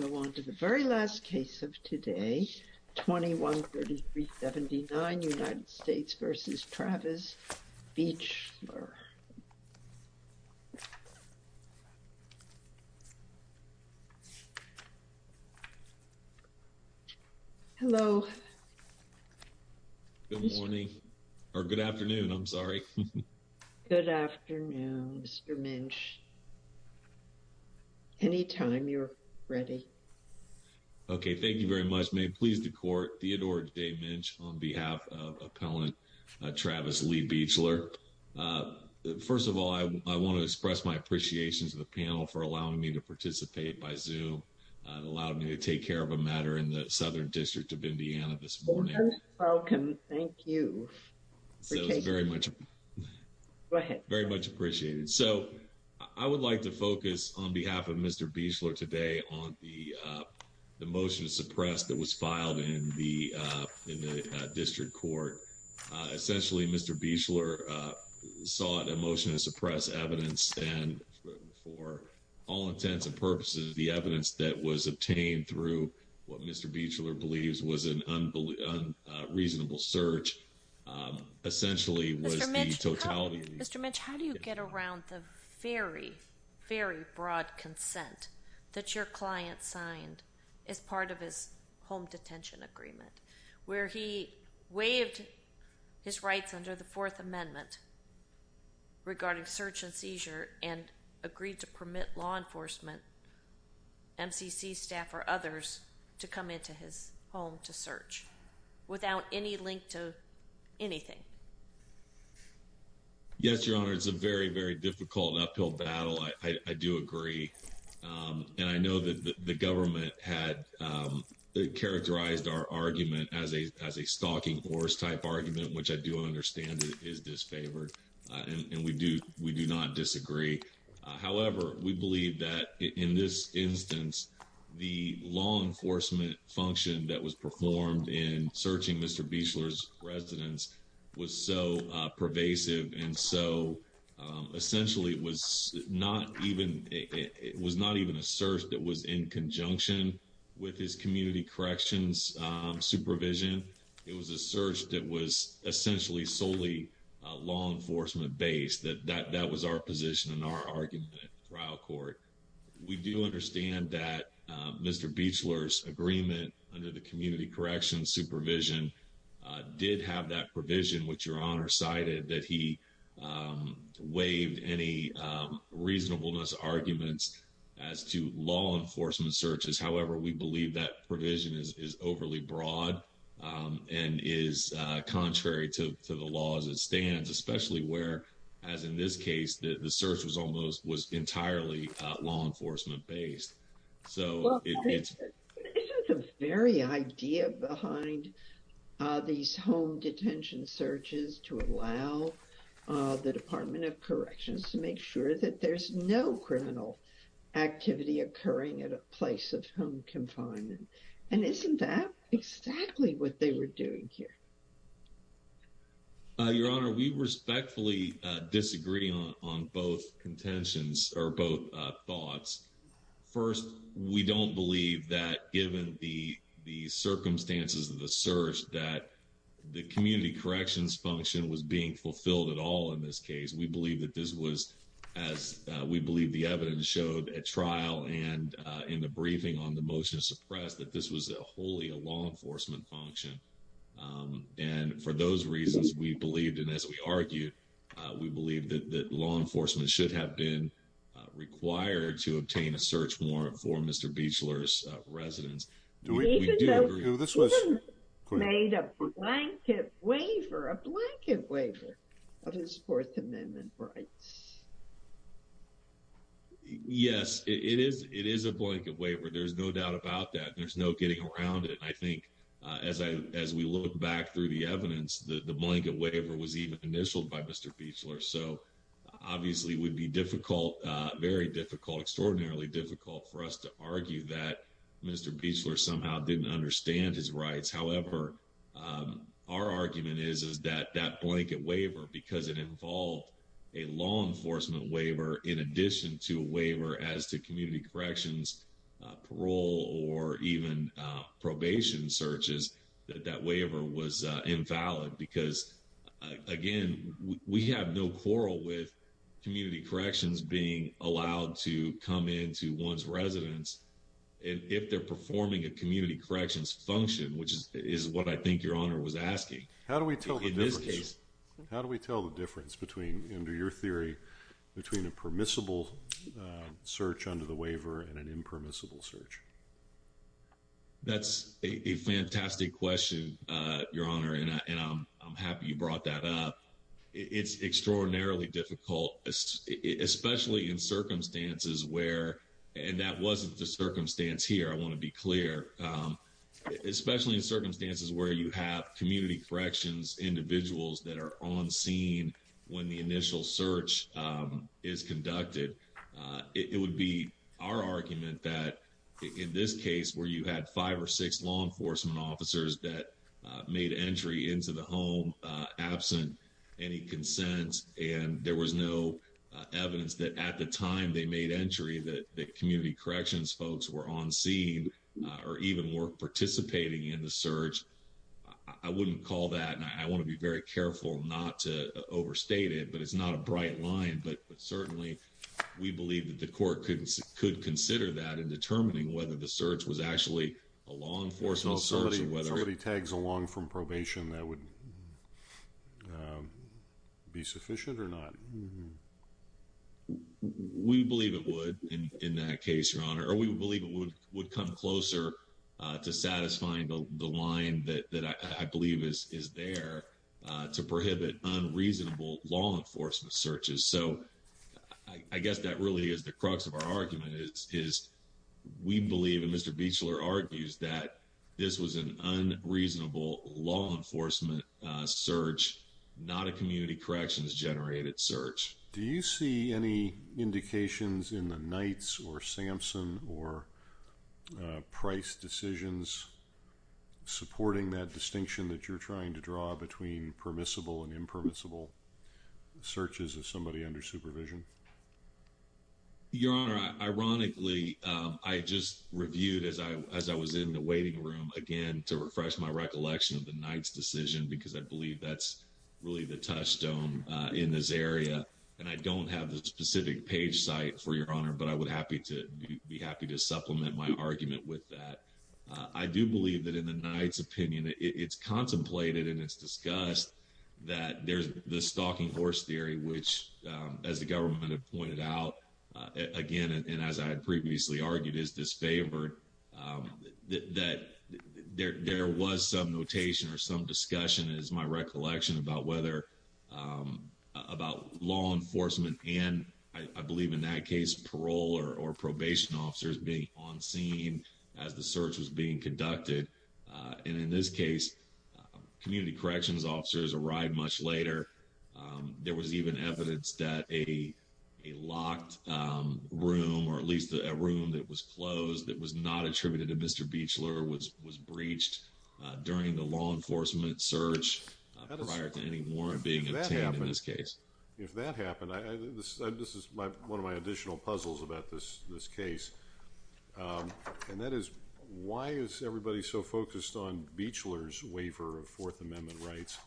We'll go on to the very last case of today, 213379 United States v. Travis Beechler. Hello. Good morning, or good afternoon, I'm sorry. Good afternoon, Mr. Minch. Anytime you're ready. Okay, thank you very much. May it please the court, Theodore Day Minch on behalf of Appellant Travis Lee Beechler. First of all, I want to express my appreciation to the panel for allowing me to participate by Zoom and allowed me to take care of a matter in the Southern District of Indiana this morning. You're welcome. Thank you. Very much. Go ahead. Very much appreciated. So, I would like to focus on behalf of Mr. Beechler today on the motion to suppress that was filed in the district court. Essentially, Mr. Beechler sought a motion to suppress evidence and for all intents and purposes, the evidence that was obtained through what Mr. Beechler believes was an unreasonable search. Mr. Minch, how do you get around the very, very broad consent that your client signed as part of his home detention agreement? Where he waived his rights under the Fourth Amendment regarding search and seizure and agreed to permit law enforcement, MCC staff, or others to come into his home to search without any link to anything. Yes, Your Honor, it's a very, very difficult uphill battle. I do agree. And I know that the government had characterized our argument as a stalking horse type argument, which I do understand is disfavored. And we do not disagree. However, we believe that in this instance, the law enforcement function that was performed in searching Mr. Beechler's residence was so pervasive. And so, essentially, it was not even a search that was in conjunction with his community corrections supervision. It was a search that was essentially solely law enforcement based. That was our position and our argument in trial court. We do understand that Mr. Beechler's agreement under the community corrections supervision did have that provision, which Your Honor cited, that he waived any reasonableness arguments as to law enforcement searches. However, we believe that provision is overly broad and is contrary to the law as it stands, especially where, as in this case, the search was almost entirely law enforcement based. Isn't the very idea behind these home detention searches to allow the Department of Corrections to make sure that there's no criminal activity occurring at a place of home confinement? And isn't that exactly what they were doing here? Your Honor, we respectfully disagree on both contentions or both thoughts. First, we don't believe that given the circumstances of the search that the community corrections function was being fulfilled at all in this case. We believe that this was as we believe the evidence showed at trial and in the briefing on the motion to suppress that this was a wholly a law enforcement function. And for those reasons, we believed in, as we argued, we believe that law enforcement should have been required to obtain a search warrant for Mr. Beechler's residence. Even though he made a blanket waiver, a blanket waiver of his Fourth Amendment rights. Yes, it is. It is a blanket waiver. There's no doubt about that. There's no getting around it. I think as I, as we look back through the evidence, the blanket waiver was even initialed by Mr. Beechler. So obviously would be difficult, very difficult, extraordinarily difficult for us to argue that Mr. Beechler somehow didn't understand his rights. However, our argument is, is that that blanket waiver, because it involved a law enforcement waiver in addition to a waiver as to community corrections, parole, or even probation searches. That waiver was invalid because again, we have no quarrel with community corrections being allowed to come into one's residence. And if they're performing a community corrections function, which is what I think your honor was asking. How do we tell the difference? How do we tell the difference between, under your theory, between a permissible search under the waiver and an impermissible search? That's a fantastic question, your honor. And I'm happy you brought that up. It's extraordinarily difficult, especially in circumstances where, and that wasn't the circumstance here, I want to be clear. Especially in circumstances where you have community corrections individuals that are on scene when the initial search is conducted. It would be our argument that in this case where you had five or six law enforcement officers that made entry into the home absent any consent. And there was no evidence that at the time they made entry that community corrections folks were on scene or even were participating in the search. I wouldn't call that, and I want to be very careful not to overstate it, but it's not a bright line. But certainly we believe that the court could consider that in determining whether the search was actually a law enforcement search. Somebody tags along from probation, that would be sufficient or not? We believe it would in that case, your honor. Or we believe it would come closer to satisfying the line that I believe is there to prohibit unreasonable law enforcement searches. So I guess that really is the crux of our argument is we believe, and Mr. Beachler argues, that this was an unreasonable law enforcement search. Not a community corrections generated search. Do you see any indications in the Knights or Samson or Price decisions supporting that distinction that you're trying to draw between permissible and impermissible searches of somebody under supervision? Your honor, ironically, I just reviewed as I as I was in the waiting room again to refresh my recollection of the night's decision, because I believe that's really the touchstone in this area. And I don't have the specific page site for your honor, but I would happy to be happy to supplement my argument with that. I do believe that in the night's opinion, it's contemplated and it's discussed that there's the stalking horse theory, which, as the government pointed out again, and as I had previously argued is disfavored. That there was some notation or some discussion is my recollection about whether about law enforcement and I believe in that case, parole or probation officers being on scene as the search was being conducted. And in this case, community corrections officers arrived much later. There was even evidence that a locked room or at least a room that was closed that was not attributed to Mr. Beachler was was breached during the law enforcement search prior to any warrant being obtained in this case. If that happened, I this is my one of my additional puzzles about this this case. And that is why is everybody so focused on Beachler's waiver of Fourth Amendment rights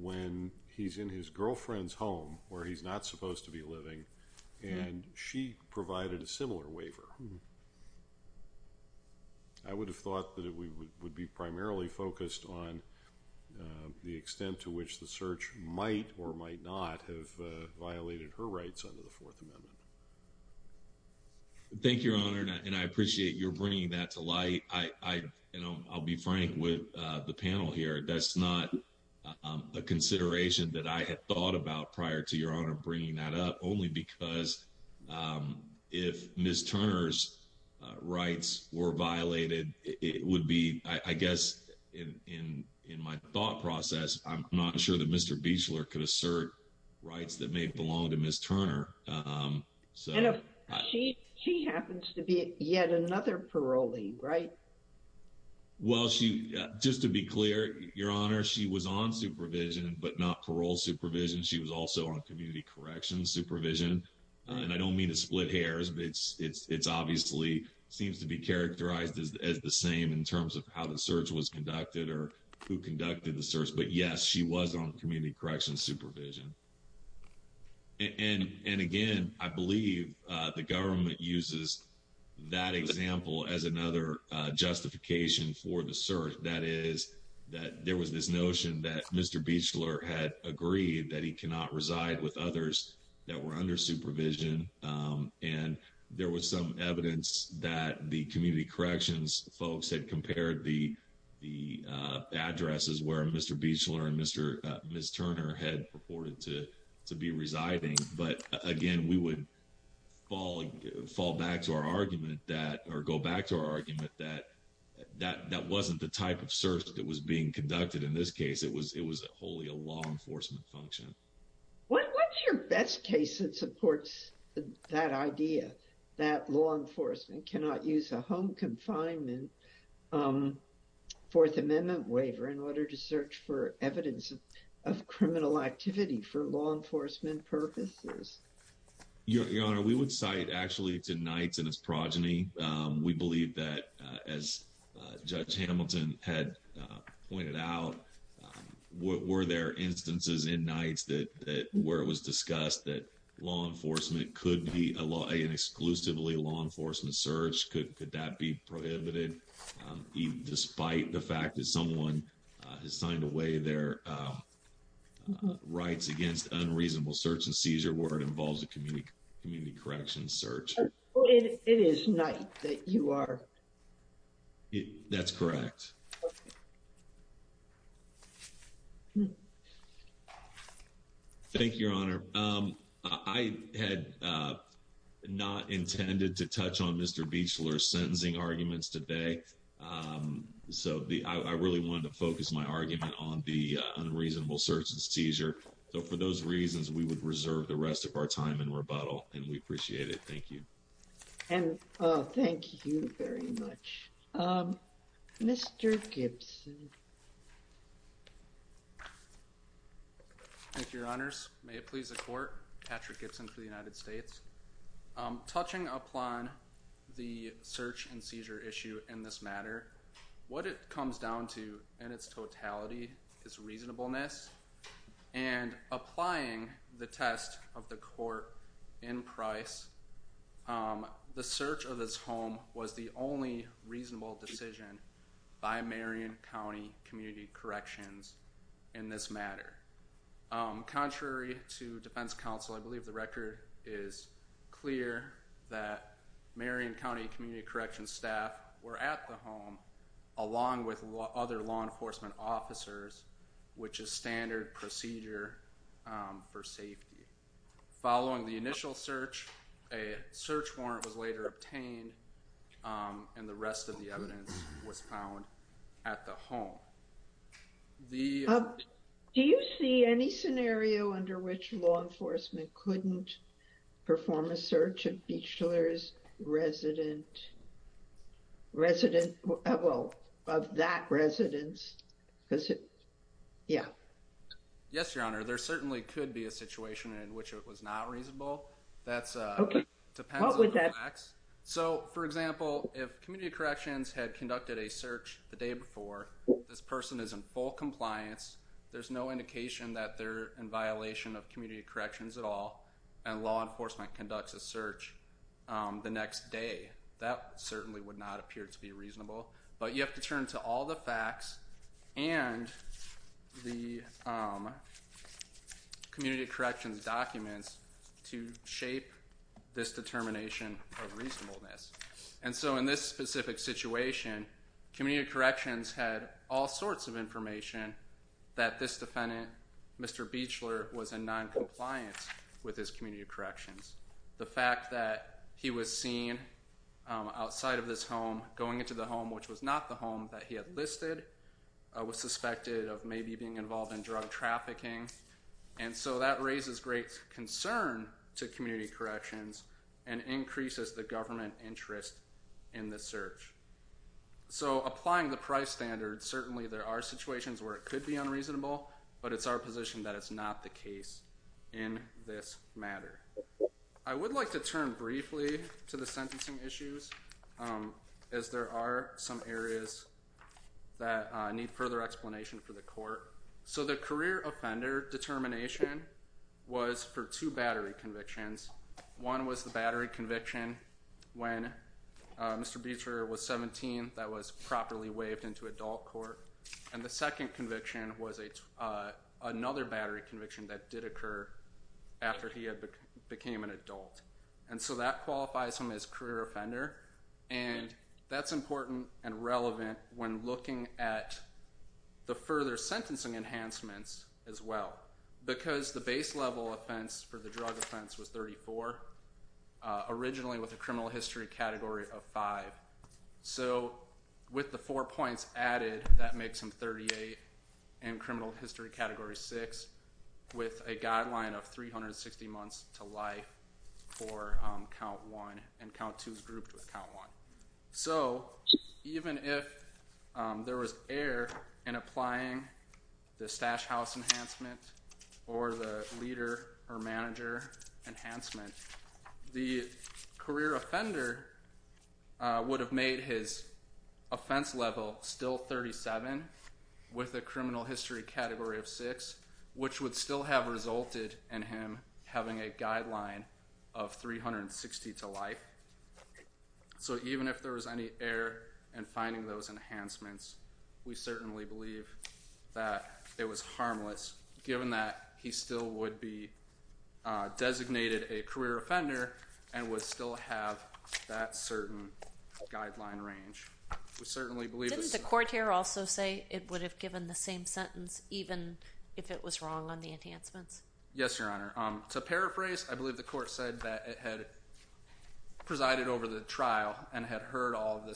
when he's in his girlfriend's home where he's not supposed to be living and she provided a similar waiver. I would have thought that we would be primarily focused on the extent to which the search might or might not have violated her rights under the Fourth Amendment. Thank you, Your Honor, and I appreciate your bringing that to light. I, you know, I'll be frank with the panel here. That's not a consideration that I had thought about prior to your honor bringing that up only because if Miss Turner's rights were violated, it would be, I guess, in in in my thought process. I'm not sure that Mr. Beachler could assert rights that may belong to Miss Turner. So, she, she happens to be yet another parolee, right? Well, she just to be clear, Your Honor, she was on supervision, but not parole supervision. She was also on community corrections supervision, and I don't mean to split hairs, but it's, it's, it's obviously seems to be characterized as the same in terms of how the search was conducted or who conducted the search. But yes, she was on community corrections supervision. And, and again, I believe the government uses that example as another justification for the search. That is that there was this notion that Mr. Beachler had agreed that he cannot reside with others that were under supervision. And there was some evidence that the community corrections folks had compared the, the addresses where Mr. Beachler and Mr. Miss Turner had reported to to be residing. But again, we would fall, fall back to our argument that or go back to our argument that that that wasn't the type of search that was being conducted. In this case, it was, it was wholly a law enforcement function. What's your best case that supports that idea that law enforcement cannot use a home confinement Fourth Amendment waiver in order to search for evidence of criminal activity for law enforcement purposes? Your Honor, we would cite actually to Knights and his progeny. We believe that as Judge Hamilton had pointed out, were there instances in Knights that, that where it was discussed that law enforcement could be a law and exclusively law enforcement search? Could that be prohibited despite the fact that someone has signed away their rights against unreasonable search and seizure where it involves a community community correction search? It is not that you are. That's correct. Thank you, Your Honor. I had not intended to touch on Mr. Beachler sentencing arguments today. So, I really wanted to focus my argument on the unreasonable search and seizure. So, for those reasons, we would reserve the rest of our time and rebuttal and we appreciate it. Thank you. And thank you very much. Mr. Gibson. Thank you, Your Honors. May it please the court. Patrick Gibson for the United States. Touching upon the search and seizure issue in this matter, what it comes down to and its totality is reasonableness and applying the test of the court in price. The search of this home was the only reasonable decision by Marion County Community Corrections in this matter. Contrary to defense counsel, I believe the record is clear that Marion County Community Corrections staff were at the home along with other law enforcement officers, which is standard procedure for safety. Following the initial search, a search warrant was later obtained and the rest of the evidence was found at the home. Do you see any scenario under which law enforcement couldn't perform a search of Beachler's resident, resident, well, of that residence? Yeah. Yes, Your Honor. There certainly could be a situation in which it was not reasonable. That's depends on the facts. So, for example, if Community Corrections had conducted a search the day before, this person is in full compliance. There's no indication that they're in violation of Community Corrections at all. And law enforcement conducts a search the next day. That certainly would not appear to be reasonable. But you have to turn to all the facts and the Community Corrections documents to shape this determination of reasonableness. And so in this specific situation, Community Corrections had all sorts of information that this defendant, Mr. Beachler, was in noncompliance with his Community Corrections. The fact that he was seen outside of this home, going into the home which was not the home that he had listed, was suspected of maybe being involved in drug trafficking. And so that raises great concern to Community Corrections and increases the government interest in this search. So applying the price standard, certainly there are situations where it could be unreasonable, but it's our position that it's not the case in this matter. I would like to turn briefly to the sentencing issues as there are some areas that need further explanation for the court. So the career offender determination was for two battery convictions. One was the battery conviction when Mr. Beachler was 17 that was properly waived into adult court. And the second conviction was another battery conviction that did occur after he became an adult. And so that qualifies him as career offender. And that's important and relevant when looking at the further sentencing enhancements as well. Because the base level offense for the drug offense was 34, originally with a criminal history category of 5. So with the four points added, that makes him 38 in criminal history category 6 with a guideline of 360 months to life for count 1 and count 2 is grouped with count 1. So even if there was error in applying the stash house enhancement or the leader or manager enhancement, the career offender would have made his offense level still 37 with a criminal history category of 6, which would still have resulted in him having a guideline of 360 to life. So even if there was any error in finding those enhancements, we certainly believe that it was harmless, given that he still would be designated a career offender and would still have that certain guideline range. Didn't the court here also say it would have given the same sentence even if it was wrong on the enhancements? Yes, Your Honor. To paraphrase, I believe the court said that it had presided over the trial and had heard all of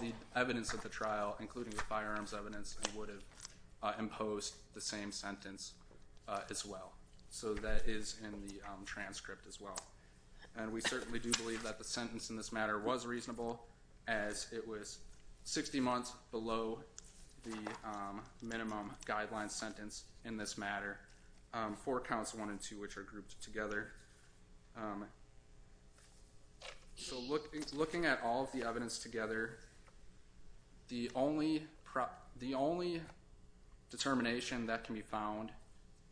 the evidence of the trial, including the firearms evidence, and would have imposed the same sentence as well. So that is in the transcript as well. And we certainly do believe that the sentence in this matter was reasonable, as it was 60 months below the minimum guideline sentence in this matter for counts 1 and 2, which are grouped together. So looking at all of the evidence together, the only determination that can be found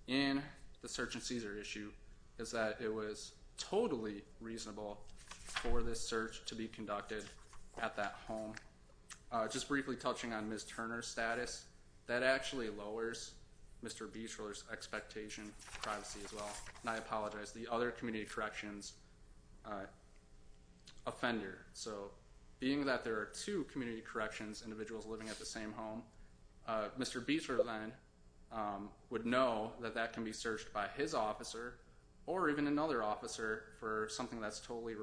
in the search and seizure issue is that it was totally reasonable for this search to be conducted at that home. Just briefly touching on Ms. Turner's status, that actually lowers Mr. Bieter's expectation of privacy as well. And I apologize, the other community corrections offender. So being that there are two community corrections individuals living at the same home, Mr. Bieter then would know that that can be searched by his officer or even another officer for something that's totally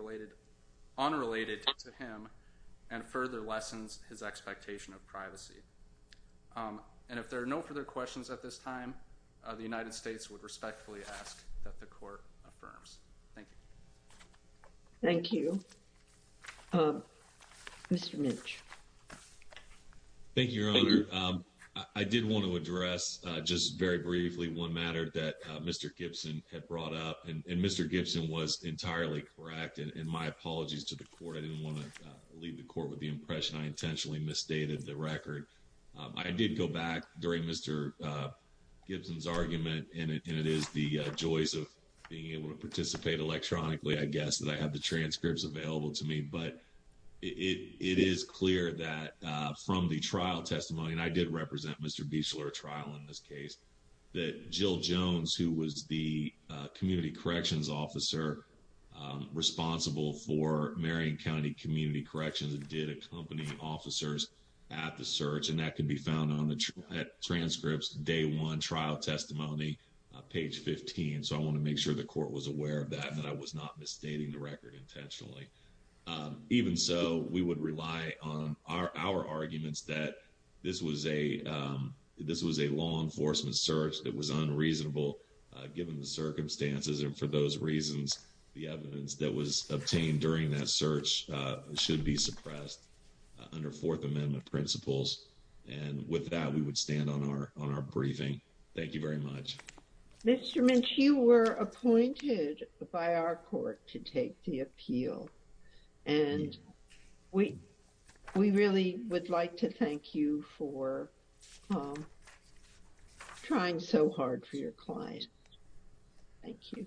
unrelated to him and further lessens his expectation of privacy. And if there are no further questions at this time, the United States would respectfully ask that the court affirms. Thank you. Thank you. Mr. Minch. Thank you, Your Honor. I did want to address just very briefly one matter that Mr. Gibson had brought up, and Mr. Gibson was entirely correct. And my apologies to the court. I didn't want to leave the court with the impression I intentionally misstated the record. I did go back during Mr. Gibson's argument, and it is the joys of being able to participate electronically, I guess, that I have the transcripts available to me. But it is clear that from the trial testimony, and I did represent Mr. Biesler at trial in this case, that Jill Jones, who was the community corrections officer responsible for Marion County Community Corrections, did accompany officers at the search, and that can be found on the transcripts, day one, trial testimony, page 15. So I want to make sure the court was aware of that and that I was not misstating the record intentionally. Even so, we would rely on our arguments that this was a law enforcement search that was unreasonable given the circumstances. And for those reasons, the evidence that was obtained during that search should be suppressed under Fourth Amendment principles. And with that, we would stand on our briefing. Thank you very much. Mr. Minch, you were appointed by our court to take the appeal, and we really would like to thank you for trying so hard for your client. Thank you.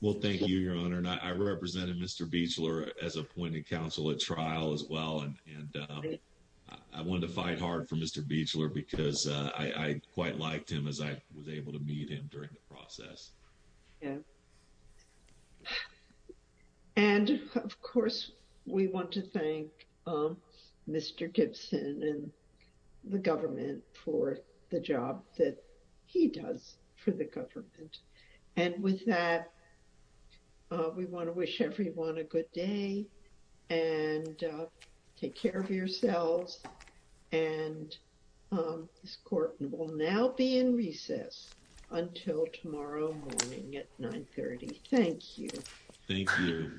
Well, thank you, Your Honor, and I represented Mr. Biesler as appointed counsel at trial as well, and I wanted to fight hard for Mr. Biesler because I quite liked him as I was able to meet him during the process. And, of course, we want to thank Mr. Gibson and the government for the job that he does for the government. And with that, we want to wish everyone a good day and take care of yourselves. And this court will now be in recess until tomorrow morning at 930. Thank you. Thank you.